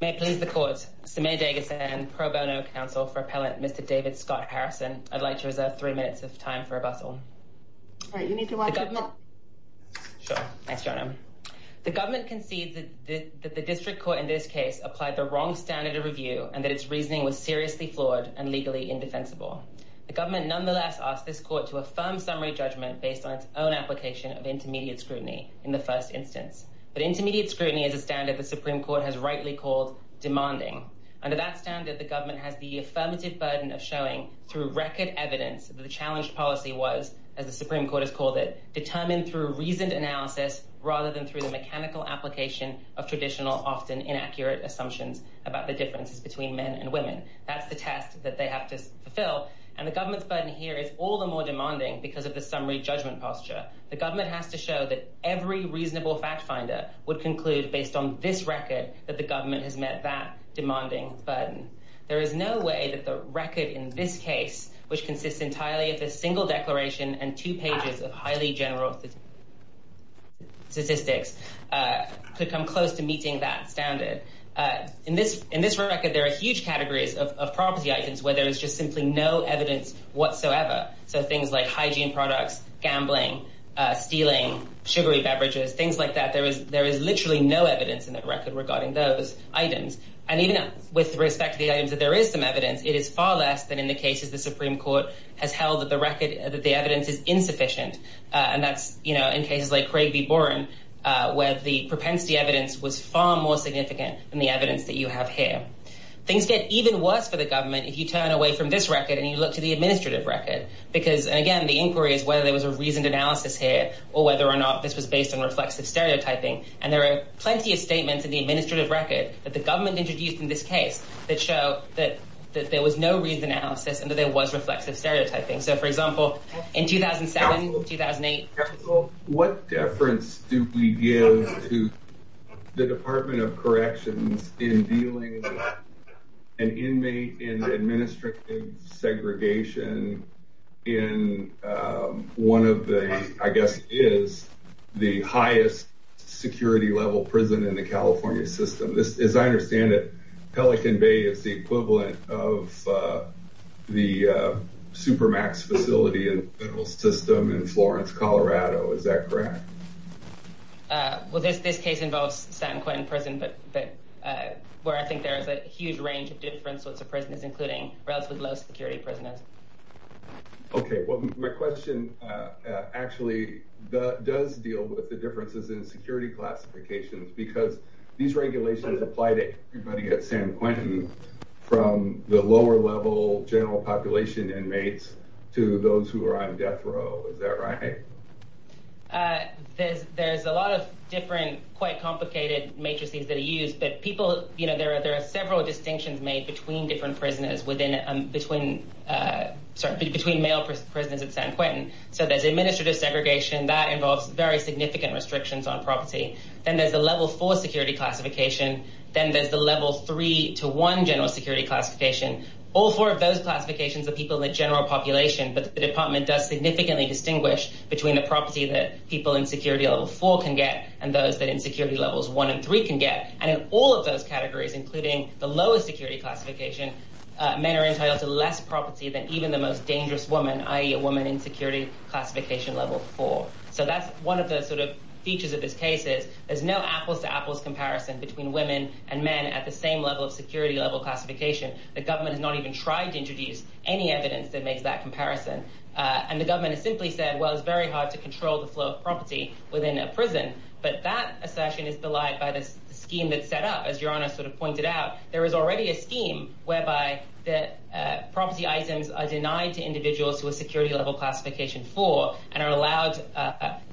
May it please the Court, Samir Deghasan, Pro Bono Counsel for Appellant Mr. David Scott Harrison, I'd like to reserve three minutes of time for rebuttal. All right, you need to watch your mouth. Sure. Thanks, Jono. The Government concedes that the District Court in this case applied the wrong standard of review and that its reasoning was seriously flawed and legally indefensible. The Government nonetheless asks this Court to affirm summary judgment based on its own application of intermediate scrutiny in the first instance. But intermediate scrutiny is a standard the Supreme Court has rightly called demanding. Under that standard, the Government has the affirmative burden of showing, through record evidence, that the challenged policy was, as the Supreme Court has called it, determined through reasoned analysis rather than through the mechanical application of traditional, often inaccurate, assumptions about the differences between men and women. That's the test that they have to fulfill. And the Government's burden here is all the more demanding because of the summary judgment posture. The Government has to show that every reasonable fact-finder would conclude, based on this record, that the Government has met that demanding burden. There is no way that the record in this case, which consists entirely of a single declaration and two pages of highly general statistics, could come close to meeting that standard. In this record, there are huge categories of property items where there is just simply no evidence whatsoever. So things like hygiene products, gambling, stealing, sugary beverages, things like that. There is literally no evidence in that record regarding those items. And even with respect to the items that there is some evidence, it is far less than in the cases the Supreme Court has held that the evidence is insufficient. And that's, you know, in cases like Craig v. Boren, where the propensity evidence was far more significant than the evidence that you have here. Things get even worse for the Government if you turn away from this record and you look to the administrative record. Because, again, the inquiry is whether there was a reasoned analysis here or whether or not this was based on reflexive stereotyping. And there are plenty of statements in the administrative record that the Government introduced in this case that show that there was no reasoned analysis and that there was reflexive stereotyping. So, for example, in 2007, 2008. What deference do we give to the Department of Corrections in dealing with an inmate in administrative segregation in one of the, I guess, is the highest security level prison in the California system? As I understand it, Pelican Bay is the equivalent of the Supermax facility in the federal system in Florence, Colorado. Is that correct? Well, this case involves San Quentin Prison, but where I think there is a huge range of different sorts of prisons, including relatively low security prisons. Okay, well, my question actually does deal with the differences in security classifications because these regulations apply to everybody at San Quentin from the lower level general population inmates to those who are on death row. Is that right? There's a lot of different, quite complicated matrices that are used, but there are several distinctions made between male prisoners at San Quentin. So there's administrative segregation that involves very significant restrictions on property. Then there's a level four security classification. Then there's the level three to one general security classification. All four of those classifications are people in the general population, but the department does significantly distinguish between the property that people in security level four can get and those that in security levels one and three can get. And in all of those categories, including the lowest security classification, men are entitled to less property than even the most dangerous woman, i.e., a woman in security classification level four. So that's one of the sort of features of this case is there's no apples to apples comparison between women and men at the same level of security level classification. The government has not even tried to introduce any evidence that makes that comparison. And the government has simply said, well, it's very hard to control the flow of property within a prison. But that assertion is belied by the scheme that's set up, as Your Honor sort of pointed out. There is already a scheme whereby that property items are denied to individuals who are security level classification four and are allowed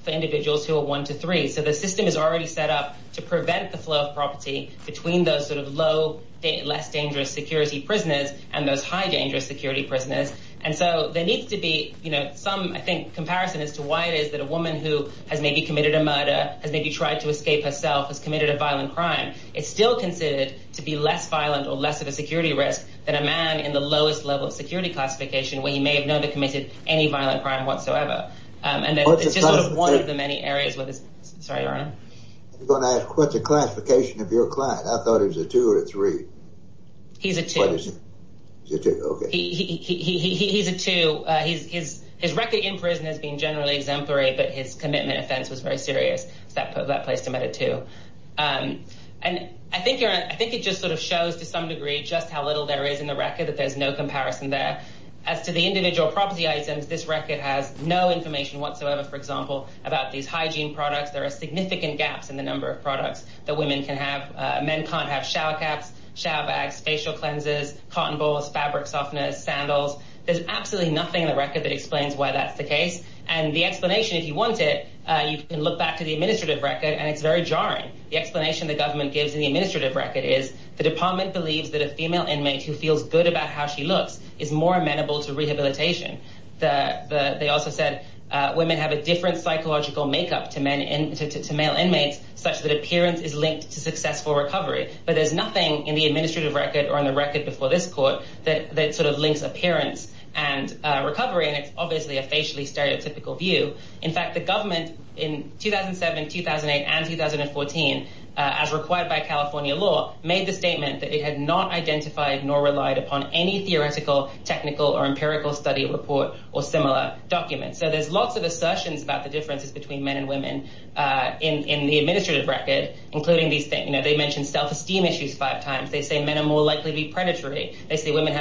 for individuals who are one to three. So the system is already set up to prevent the flow of property between those sort of low, less dangerous security prisoners and those high dangerous security prisoners. And so there needs to be, you know, some, I think, comparison as to why it is that a woman who has maybe committed a murder has maybe tried to escape herself, has committed a violent crime. It's still considered to be less violent or less of a security risk than a man in the lowest level of security classification where he may have never committed any violent crime whatsoever. And it's just sort of one of the many areas with this. Sorry, Your Honor. I was going to ask, what's the classification of your client? I thought he was a two or a three. He's a two. He's a two, okay. He's a two. His record in prison has been generally exemplary, but his commitment offense was very serious. So that place him at a two. And I think, Your Honor, I think it just sort of shows to some degree just how little there is in the record, that there's no comparison there. As to the individual property items, this record has no information whatsoever, for example, about these hygiene products. There are significant gaps in the number of products that women can have. Men can't have shower caps, shower bags, facial cleansers, cotton balls, fabric softeners, sandals. There's absolutely nothing in the record that explains why that's the case. And the explanation, if you want it, you can look back to the administrative record, and it's very jarring. The explanation the government gives in the administrative record is the department believes that a female inmate who feels good about how she looks is more amenable to rehabilitation. They also said women have a different psychological makeup to male inmates, such that appearance is linked to successful recovery. But there's nothing in the administrative record or in the record before this court that sort of links appearance and recovery. And it's obviously a facially stereotypical view. In fact, the government in 2007, 2008, and 2014, as required by California law, made the statement that it had not identified nor relied upon any theoretical, technical, or empirical study report or similar documents. So there's lots of assertions about the differences between men and women in the administrative record, including these things. They mentioned self-esteem issues five times. They say men are more likely to be predatory. They say women are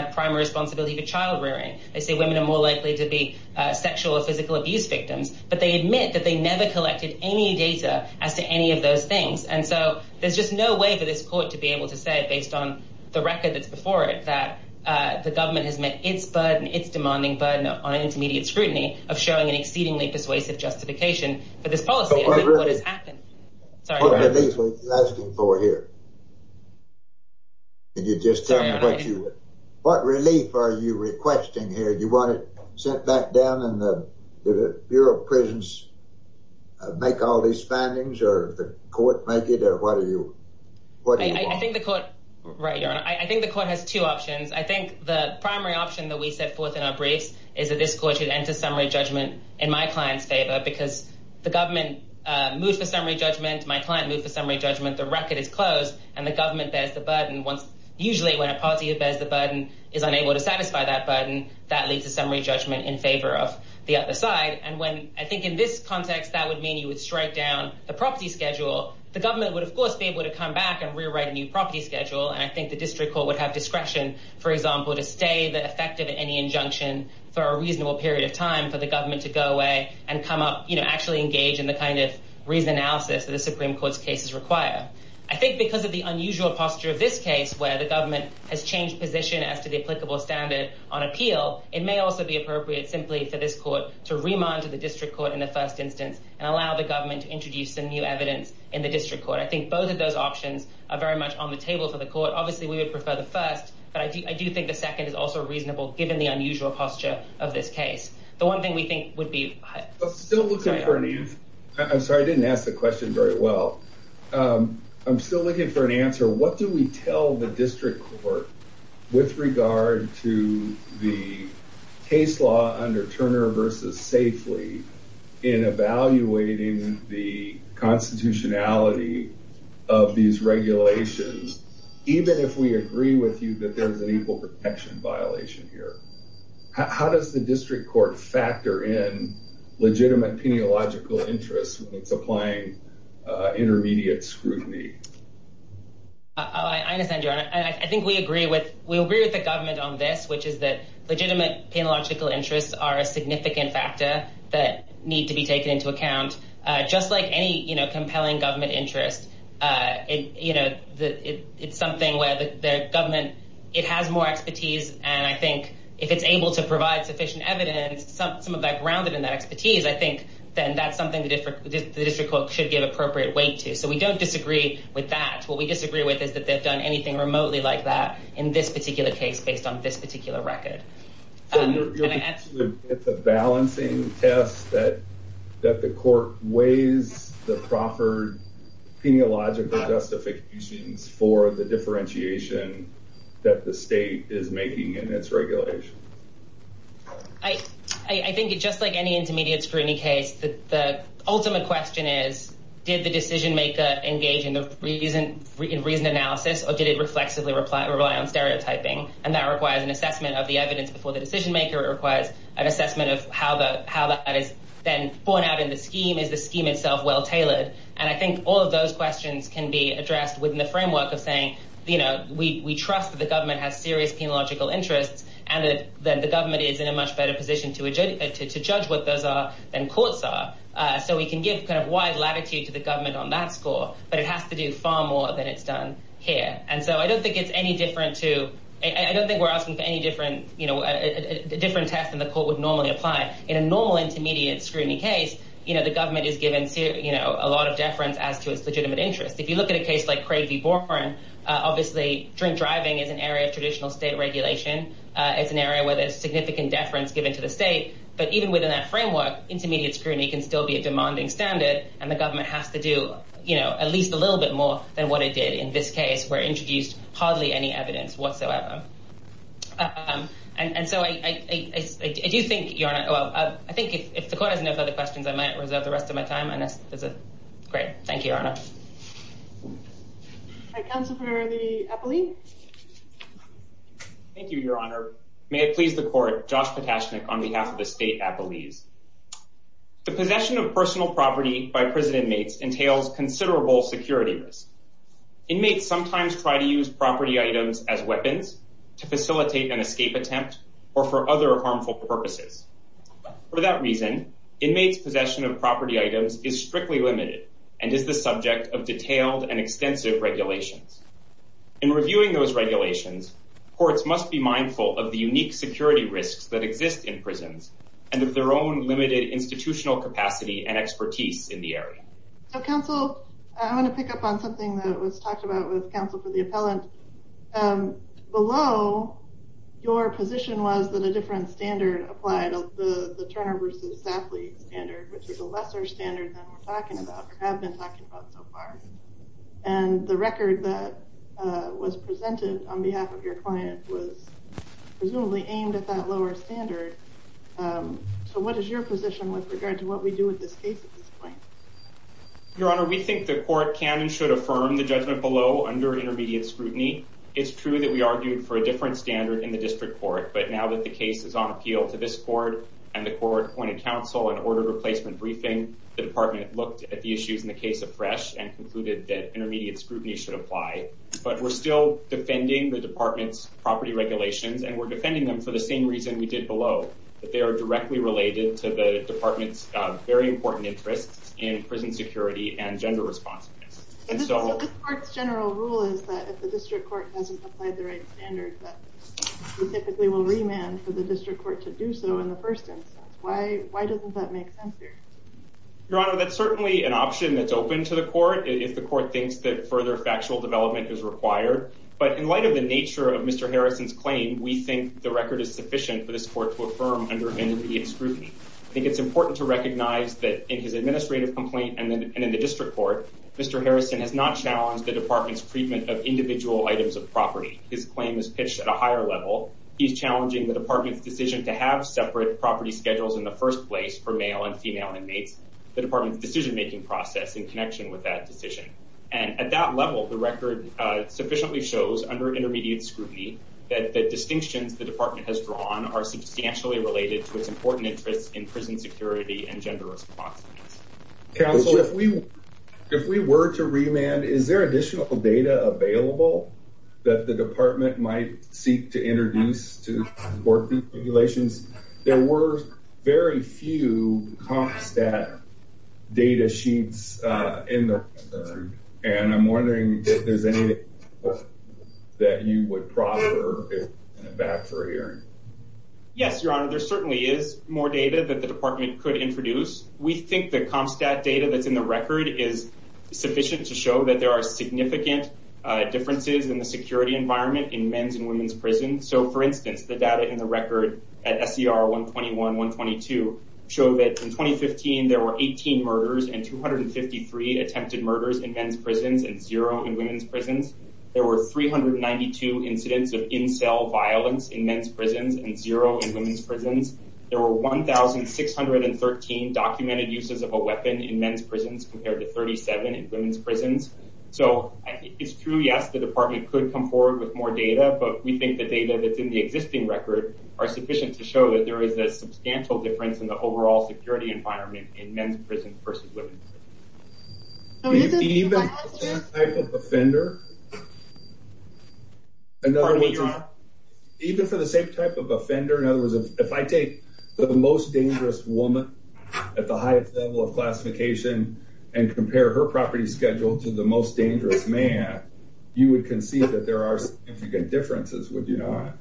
more likely to be sexual or physical abuse victims. But they admit that they never collected any data as to any of those things. And so there's just no way for this court to be able to say, based on the record that's before it, that the government has met its burden, its demanding burden on intermediate scrutiny of showing an exceedingly persuasive justification for this policy. What relief are you asking for here? Can you just tell me what relief are you requesting here? Do you want it sent back down and the Bureau of Prisons make all these findings, or the court make it, or what do you want? Right, Your Honor. I think the court has two options. I think the primary option that we set forth in our briefs is that this court should enter summary judgment in my client's favor because the government moved the summary judgment. My client moved the summary judgment. The record is closed, and the government bears the burden. Usually when a party that bears the burden is unable to satisfy that burden, that leads to summary judgment in favor of the other side. And I think in this context, that would mean you would strike down the property schedule. The government would, of course, be able to come back and rewrite a new property schedule. And I think the district court would have discretion, for example, to stay effective in any injunction for a reasonable period of time for the government to go away and come up, you know, actually engage in the kind of reason analysis that the Supreme Court's cases require. I think because of the unusual posture of this case where the government has changed position as to the applicable standard on appeal, it may also be appropriate simply for this court to remand to the district court in the first instance and allow the government to introduce some new evidence in the district court. I think both of those options are very much on the table for the court. Obviously, we would prefer the first, but I do think the second is also reasonable, given the unusual posture of this case. I'm still looking for an answer. I'm sorry, I didn't ask the question very well. I'm still looking for an answer. What do we tell the district court with regard to the case law under Turner v. Safely in evaluating the constitutionality of these regulations, even if we agree with you that there's an equal protection violation here? How does the district court factor in legitimate penological interests when it's applying intermediate scrutiny? I understand, Your Honor. I think we agree with the government on this, which is that legitimate penological interests are a significant factor that need to be taken into account. Just like any compelling government interest, it's something where the government has more expertise, and I think if it's able to provide sufficient evidence, some of that grounded in that expertise, I think then that's something the district court should give appropriate weight to. So we don't disagree with that. What we disagree with is that they've done anything remotely like that in this particular case based on this particular record. It's a balancing test that the court weighs the proffered penological justifications for the differentiation that the state is making in its regulation. I think just like any intermediate scrutiny case, the ultimate question is, did the decision maker engage in the reasoned analysis, or did it reflexively rely on stereotyping? And that requires an assessment of the evidence before the decision maker. It requires an assessment of how that is then borne out in the scheme. Is the scheme itself well tailored? And I think all of those questions can be addressed within the framework of saying we trust that the government has serious penological interests, and that the government is in a much better position to judge what those are than courts are. So we can give kind of wide latitude to the government on that score, but it has to do far more than it's done here. And so I don't think it's any different to – I don't think we're asking for any different test than the court would normally apply. In a normal intermediate scrutiny case, the government is given a lot of deference as to its legitimate interest. If you look at a case like Craig v. Boren, obviously drink driving is an area of traditional state regulation. It's an area where there's significant deference given to the state. But even within that framework, intermediate scrutiny can still be a demanding standard, and the government has to do at least a little bit more than what it did in this case where it introduced hardly any evidence whatsoever. And so I do think, Your Honor – well, I think if the court has enough other questions, I might reserve the rest of my time. Great. Thank you, Your Honor. All right. Counsel for the appellee. Thank you, Your Honor. May it please the court, Josh Patashnik on behalf of the state appellees. The possession of personal property by prison inmates entails considerable security risk. Inmates sometimes try to use property items as weapons to facilitate an escape attempt or for other harmful purposes. For that reason, inmates' possession of property items is strictly limited and is the subject of detailed and extensive regulations. In reviewing those regulations, courts must be mindful of the unique security risks that exist in prisons and of their own limited institutional capacity and expertise in the area. So, Counsel, I want to pick up on something that was talked about with Counsel for the appellant. Below, your position was that a different standard applied, the Turner v. Safley standard, which is a lesser standard than we're talking about or have been talking about so far. And the record that was presented on behalf of your client was presumably aimed at that lower standard. So what is your position with regard to what we do with this case at this point? Your Honor, we think the court can and should affirm the judgment below under intermediate scrutiny. It's true that we argued for a different standard in the district court. But now that the case is on appeal to this court and the court appointed counsel and ordered replacement briefing, the department looked at the issues in the case afresh and concluded that intermediate scrutiny should apply. But we're still defending the department's property regulations, and we're defending them for the same reason we did below, that they are directly related to the department's very important interests in prison security and gender responsiveness. This court's general rule is that if the district court hasn't applied the right standard, that we typically will remand for the district court to do so in the first instance. Why doesn't that make sense here? Your Honor, that's certainly an option that's open to the court if the court thinks that further factual development is required. But in light of the nature of Mr. Harrison's claim, we think the record is sufficient for this court to affirm under intermediate scrutiny. I think it's important to recognize that in his administrative complaint and in the district court, Mr. Harrison has not challenged the department's treatment of individual items of property. His claim is pitched at a higher level. He's challenging the department's decision to have separate property schedules in the first place for male and female inmates, the department's decision-making process in connection with that decision. And at that level, the record sufficiently shows under intermediate scrutiny that the distinctions the department has drawn are substantially related to its important interests in prison security and gender responsiveness. Counsel, if we were to remand, is there additional data available that the department might seek to introduce to support these regulations? There were very few CompStat data sheets in the record. And I'm wondering if there's anything that you would proffer if you're going to back for a hearing. Yes, Your Honor, there certainly is more data that the department could introduce. We think the CompStat data that's in the record is sufficient to show that there are significant differences in the security environment in men's and women's prisons. So, for instance, the data in the record at SCR 121, 122 show that in 2015, there were 18 murders and 253 attempted murders in men's prisons and zero in women's prisons. There were 392 incidents of in-cell violence in men's prisons and zero in women's prisons. There were 1,613 documented uses of a weapon in men's prisons compared to 37 in women's prisons. So it's true, yes, the department could come forward with more data, but we think the data that's in the existing record are sufficient to show that there is a substantial difference in the overall security environment in men's prisons versus women's prisons. Even for the same type of offender, in other words, if I take the most dangerous woman at the highest level of classification and compare her property schedule to the most dangerous man, you would concede that there are significant differences, would you not?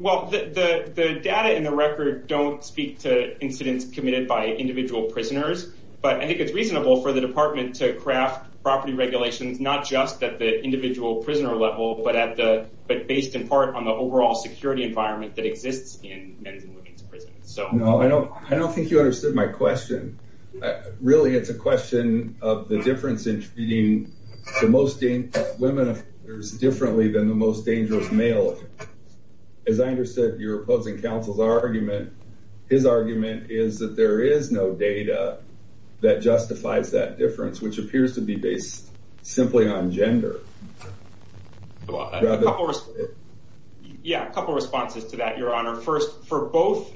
Well, the data in the record don't speak to incidents committed by individual prisoners, but I think it's reasonable for the department to craft property regulations not just at the individual prisoner level, but based in part on the overall security environment that exists in men's and women's prisons. No, I don't think you understood my question. Really, it's a question of the difference in treating women offenders differently than the most dangerous male offenders. As I understood your opposing counsel's argument, his argument is that there is no data that justifies that difference, which appears to be based simply on gender. Yeah, a couple of responses to that, Your Honor. First, for both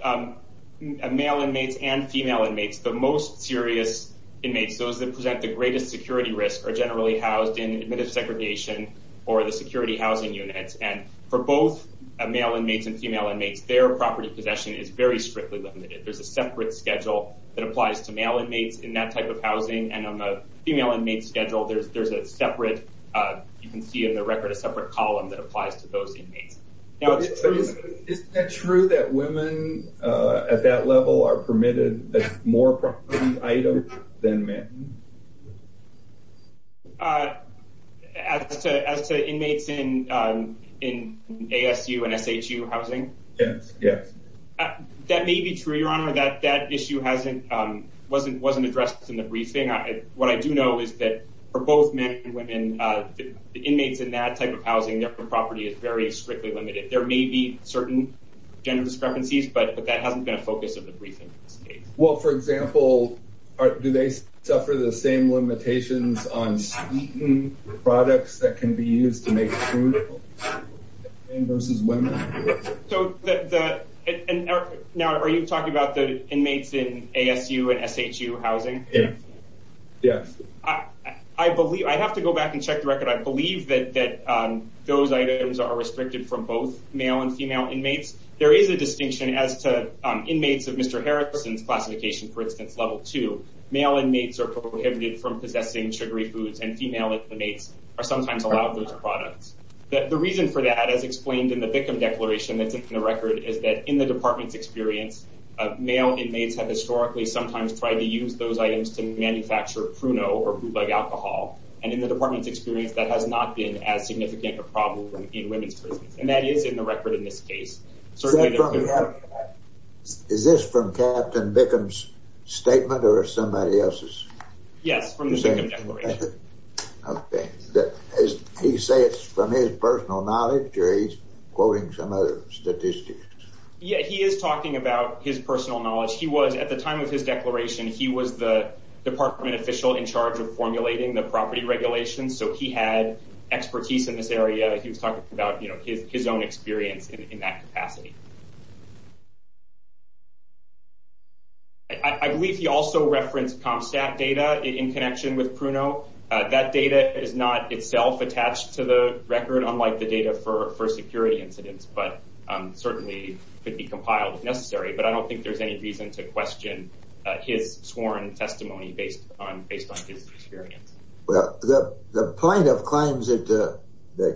male inmates and female inmates, the most serious inmates, those that present the greatest security risk, are generally housed in admittance segregation or the security housing units. And for both male inmates and female inmates, their property possession is very strictly limited. There's a separate schedule that applies to male inmates in that type of housing, and on the female inmates' schedule, there's a separate, you can see in the record, a separate column that applies to those inmates. Now, is it true that women at that level are permitted more property items than men? As to inmates in ASU and SHU housing? Yes. That may be true, Your Honor. That issue wasn't addressed in the briefing. What I do know is that for both men and women, inmates in that type of housing, their property is very strictly limited. There may be certain gender discrepancies, but that hasn't been a focus of the briefing. Well, for example, do they suffer the same limitations on sweetened products that can be used to make food, versus women? Now, are you talking about the inmates in ASU and SHU housing? Yes. I have to go back and check the record. I believe that those items are restricted from both male and female inmates. There is a distinction as to inmates of Mr. Harrison's classification, for instance, Level 2. Male inmates are prohibited from possessing sugary foods, and female inmates are sometimes allowed those products. The reason for that, as explained in the Bickham Declaration that's in the record, is that in the Department's experience, male inmates have historically sometimes tried to use those items to manufacture pruno, or food like alcohol. And in the Department's experience, that has not been as significant a problem in women's prisons. And that is in the record in this case. Is this from Captain Bickham's statement, or somebody else's? Yes, from the Bickham Declaration. Okay. He say it's from his personal knowledge, or he's quoting some other statistics? Yeah, he is talking about his personal knowledge. He was, at the time of his declaration, he was the department official in charge of formulating the property regulations, so he had expertise in this area. He was talking about his own experience in that capacity. I believe he also referenced CompStat data in connection with pruno. That data is not itself attached to the record, unlike the data for security incidents, but certainly could be compiled if necessary. But I don't think there's any reason to question his sworn testimony based on his experience. Well, the point of claims that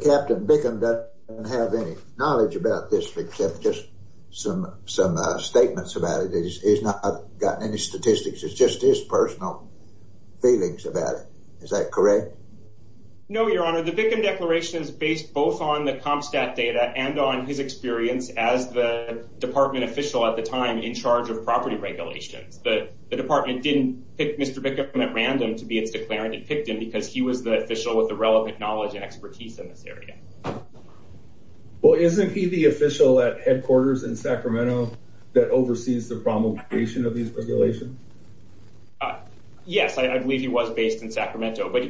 Captain Bickham doesn't have any knowledge about this, except just some statements about it, he's not gotten any statistics. It's just his personal feelings about it. Is that correct? No, Your Honor. The Bickham Declaration is based both on the CompStat data and on his experience as the department official at the time in charge of property regulations. The department didn't pick Mr. Bickham at random to be its declarant. It picked him because he was the official with the relevant knowledge and expertise in this area. Well, isn't he the official at headquarters in Sacramento that oversees the promulgation of these regulations? Yes, I believe he was based in Sacramento. But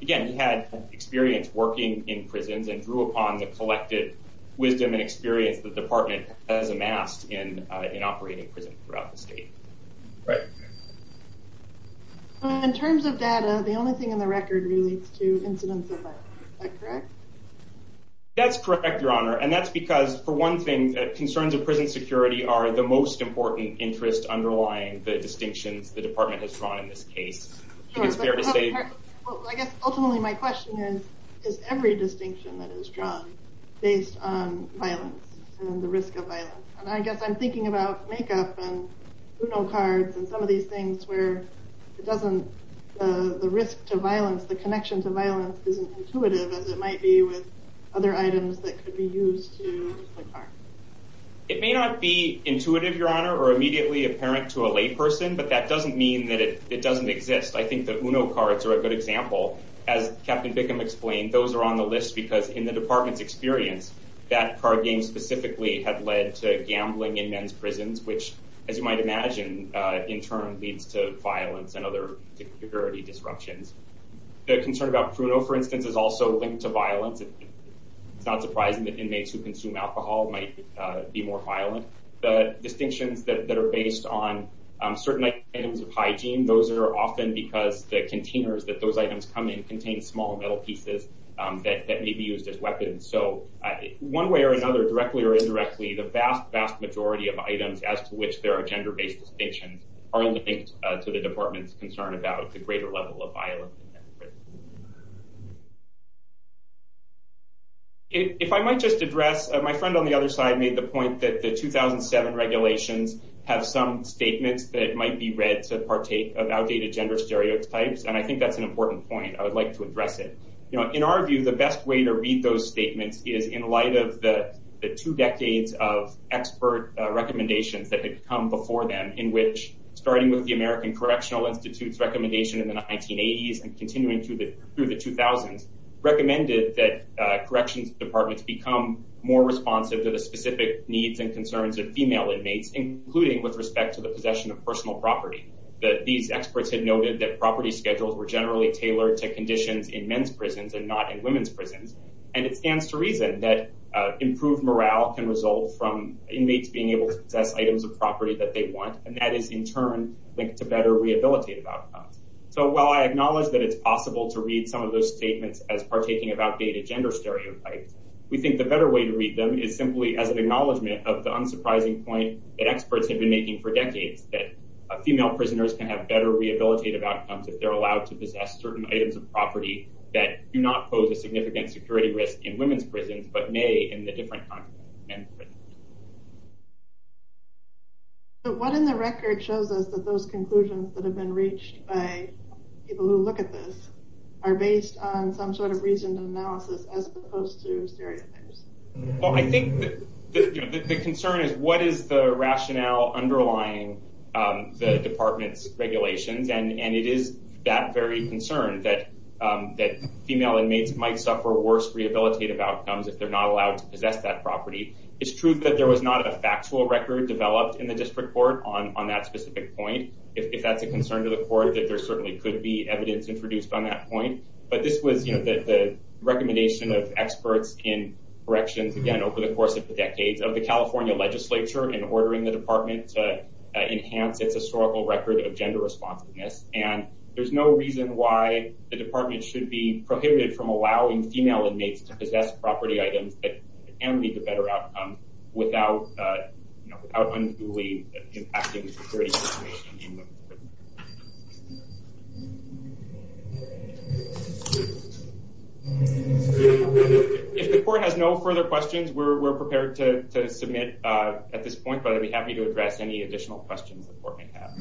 again, he had experience working in prisons and drew upon the collective wisdom and experience the department has amassed in operating prisons throughout the state. In terms of data, the only thing in the record relates to incidents of violence. Is that correct? That's correct, Your Honor. And that's because, for one thing, concerns of prison security are the most important interest underlying the distinctions the department has drawn in this case. I guess ultimately my question is, is every distinction that is drawn based on violence and the risk of violence? And I guess I'm thinking about makeup and Uno cards and some of these things where the risk to violence, the connection to violence isn't intuitive as it might be with other items that could be used to inflict harm. It may not be intuitive, Your Honor, or immediately apparent to a layperson, but that doesn't mean that it doesn't exist. I think the Uno cards are a good example. As Captain Bickham explained, those are on the list because in the department's experience, that card game specifically had led to gambling in men's prisons, which, as you might imagine, in turn leads to violence and other security disruptions. The concern about Bruno, for instance, is also linked to violence. It's not surprising that inmates who consume alcohol might be more violent. The distinctions that are based on certain items of hygiene, those are often because the containers that those items come in contain small metal pieces that may be used as weapons. One way or another, directly or indirectly, the vast, vast majority of items as to which there are gender-based distinctions are linked to the department's concern about the greater level of violence in men's prisons. If I might just address, my friend on the other side made the point that the 2007 regulations have some statements that might be read to partake of outdated gender stereotypes, and I think that's an important point. I would like to address it. In our view, the best way to read those statements is in light of the two decades of expert recommendations that had come before them, in which, starting with the American Correctional Institute's recommendation in the 1980s and continuing through the 2000s, recommended that corrections departments become more responsive to the specific needs and concerns of female inmates, including with respect to the possession of personal property. These experts had noted that property schedules were generally tailored to conditions in men's prisons and not in women's prisons, and it stands to reason that improved morale can result from inmates being able to possess items of property that they want, and that is, in turn, linked to better rehabilitative outcomes. So while I acknowledge that it's possible to read some of those statements as partaking of outdated gender stereotypes, we think the better way to read them is simply as an acknowledgement of the unsurprising point that experts have been making for decades, that female prisoners can have better rehabilitative outcomes if they're allowed to possess certain items of property that do not pose a significant security risk in women's prisons, but may in the different kinds of men's prisons. So what in the record shows us that those conclusions that have been reached by people who look at this are based on some sort of reasoned analysis as opposed to stereotypes? Well, I think the concern is what is the rationale underlying the department's regulations, and it is that very concern that female inmates might suffer worse rehabilitative outcomes if they're not allowed to possess that property. It's true that there was not a factual record developed in the district court on that specific point. If that's a concern to the court, then there certainly could be evidence introduced on that point, but this was the recommendation of experts in corrections, again, over the course of the decades of the California legislature in ordering the department to enhance its historical record of gender responsiveness, and there's no reason why the department should be prohibited from allowing female inmates to possess property items that can lead to better outcomes without unduly impacting the security situation in the prison. If the court has no further questions, we're prepared to submit at this point, but I'd be happy to address any additional questions the court may have.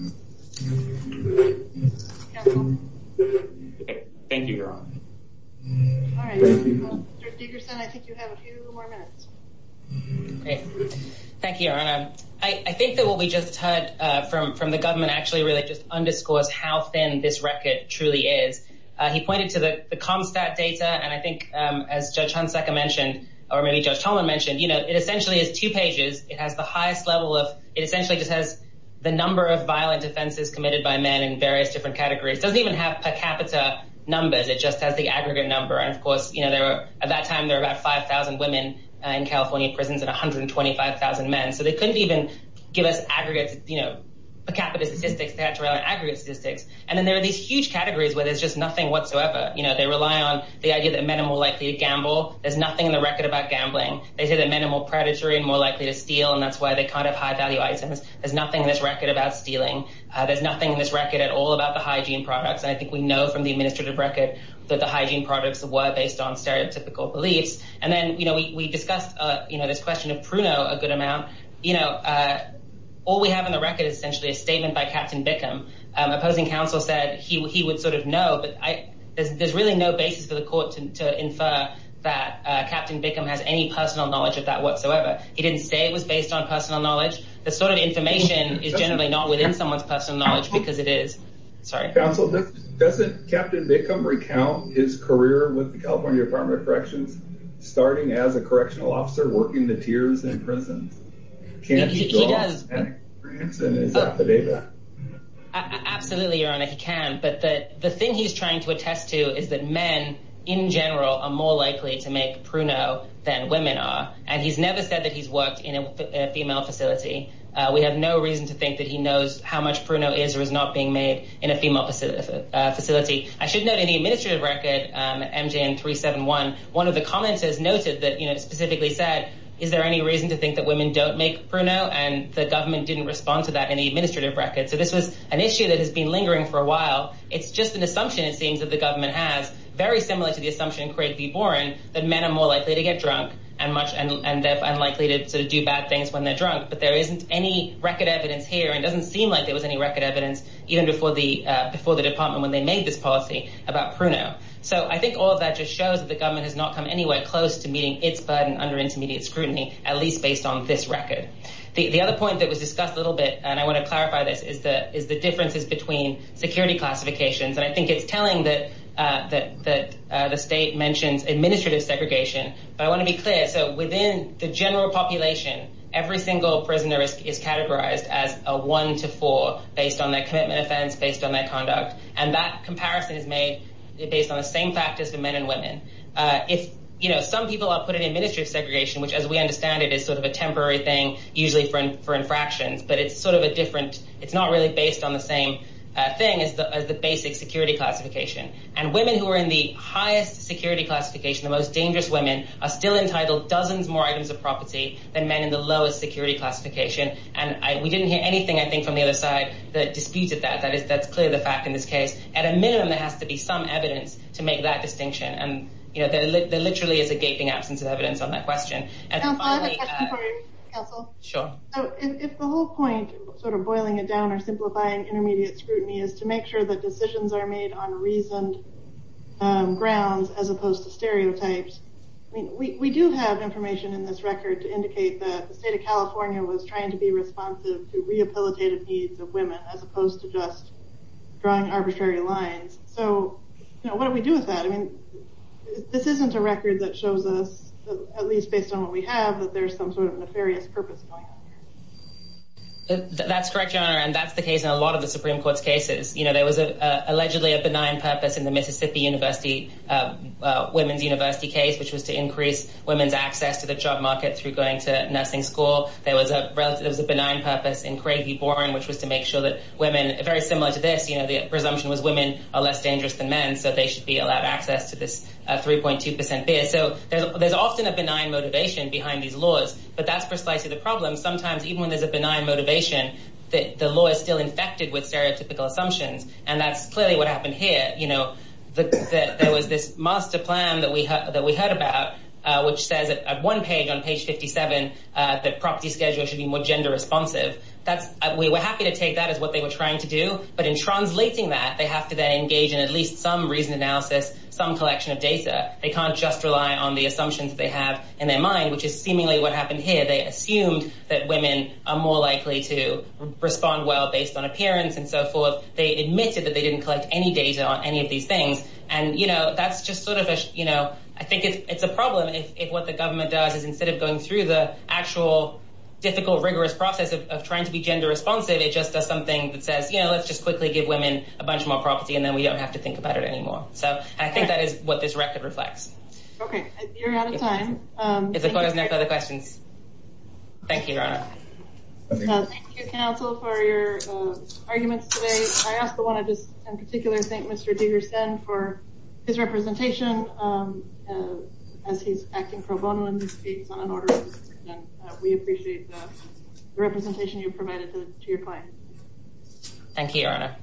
Thank you, Your Honor. All right. Mr. Dickerson, I think you have a few more minutes. Thank you, Your Honor. I think that what we just heard from the government actually really just underscores how thin this record truly is. He pointed to the ComStat data, and I think, as Judge Hunsecker mentioned, or maybe Judge Tolman mentioned, you know, it essentially is two pages. It has the highest level of—it essentially just has the number of violent offenses committed by men in various different categories. It doesn't even have per capita numbers. It just has the aggregate number, and, of course, you know, at that time there were about 5,000 women in California prisons and 125,000 men, so they couldn't even give us aggregate, you know, per capita statistics. They had to rely on aggregate statistics, and then there are these huge categories where there's just nothing whatsoever. You know, they rely on the idea that men are more likely to gamble. There's nothing in the record about gambling. They say that men are more predatory and more likely to steal, and that's why they can't have high-value items. There's nothing in this record about stealing. There's nothing in this record at all about the hygiene products, and I think we know from the administrative record that the hygiene products were based on stereotypical beliefs. And then, you know, we discussed, you know, this question of Pruno a good amount. You know, all we have in the record is essentially a statement by Captain Bickham. Opposing counsel said he would sort of know, but there's really no basis for the court to infer that Captain Bickham has any personal knowledge of that whatsoever. He didn't say it was based on personal knowledge. The sort of information is generally not within someone's personal knowledge because it is. Sorry. Counsel, doesn't Captain Bickham recount his career with the California Department of Corrections starting as a correctional officer working the tiers in prisons? Can he draw on his experience and his affidavit? Absolutely, Your Honor, he can. But the thing he's trying to attest to is that men, in general, are more likely to make Pruno than women are. And he's never said that he's worked in a female facility. We have no reason to think that he knows how much Pruno is or is not being made in a female facility. I should note in the administrative record, MJN 371, one of the commenters noted that, you know, specifically said, is there any reason to think that women don't make Pruno? And the government didn't respond to that in the administrative record. So this was an issue that has been lingering for a while. It's just an assumption, it seems, that the government has, very similar to the assumption in Craig v. Boren, that men are more likely to get drunk and they're unlikely to do bad things when they're drunk. But there isn't any record evidence here, and it doesn't seem like there was any record evidence, even before the department when they made this policy about Pruno. So I think all of that just shows that the government has not come anywhere close to meeting its burden under intermediate scrutiny, at least based on this record. The other point that was discussed a little bit, and I want to clarify this, is the differences between security classifications. And I think it's telling that the state mentions administrative segregation. But I want to be clear. So within the general population, every single prisoner is categorized as a one to four, based on their commitment offense, based on their conduct. And that comparison is made based on the same factors for men and women. Some people are put in administrative segregation, which, as we understand it, is sort of a temporary thing, usually for infractions, but it's not really based on the same thing as the basic security classification. And women who are in the highest security classification, the most dangerous women, are still entitled to dozens more items of property than men in the lowest security classification. And we didn't hear anything, I think, from the other side that disputed that. That's clear, the fact, in this case. At a minimum, there has to be some evidence to make that distinction. And there literally is a gaping absence of evidence on that question. I have a question for you, counsel. Sure. If the whole point, sort of boiling it down or simplifying intermediate scrutiny, is to make sure that decisions are made on reasoned grounds as opposed to stereotypes, we do have information in this record to indicate that the state of California was trying to be responsive to rehabilitative needs of women as opposed to just drawing arbitrary lines. So what do we do with that? I mean, this isn't a record that shows us, at least based on what we have, that there's some sort of nefarious purpose going on here. That's correct, Your Honor, and that's the case in a lot of the Supreme Court's cases. You know, there was allegedly a benign purpose in the Mississippi University women's university case, which was to increase women's access to the job market through going to nursing school. There was a benign purpose in Craig v. Boren, which was to make sure that women, very similar to this, the presumption was women are less dangerous than men, so they should be allowed access to this 3.2 percent beer. So there's often a benign motivation behind these laws, but that's precisely the problem. Sometimes even when there's a benign motivation, the law is still infected with stereotypical assumptions, and that's clearly what happened here. There was this master plan that we heard about, which says at one page, on page 57, that property schedules should be more gender responsive. We were happy to take that as what they were trying to do, but in translating that, they have to then engage in at least some reasoned analysis, some collection of data. They can't just rely on the assumptions they have in their mind, which is seemingly what happened here. They assumed that women are more likely to respond well based on appearance and so forth. They admitted that they didn't collect any data on any of these things, and that's just sort of a, I think it's a problem if what the government does is instead of going through the actual difficult, rigorous process of trying to be gender responsive, it just does something that says, let's just quickly give women a bunch more property, and then we don't have to think about it anymore. So I think that is what this record reflects. Okay, you're out of time. Thank you, Your Honor. Thank you, counsel, for your arguments today. I also want to just in particular thank Mr. Degersen for his representation, as he's acting pro bono in his speech on an order, and we appreciate the representation you provided to your client. Thank you, Your Honor.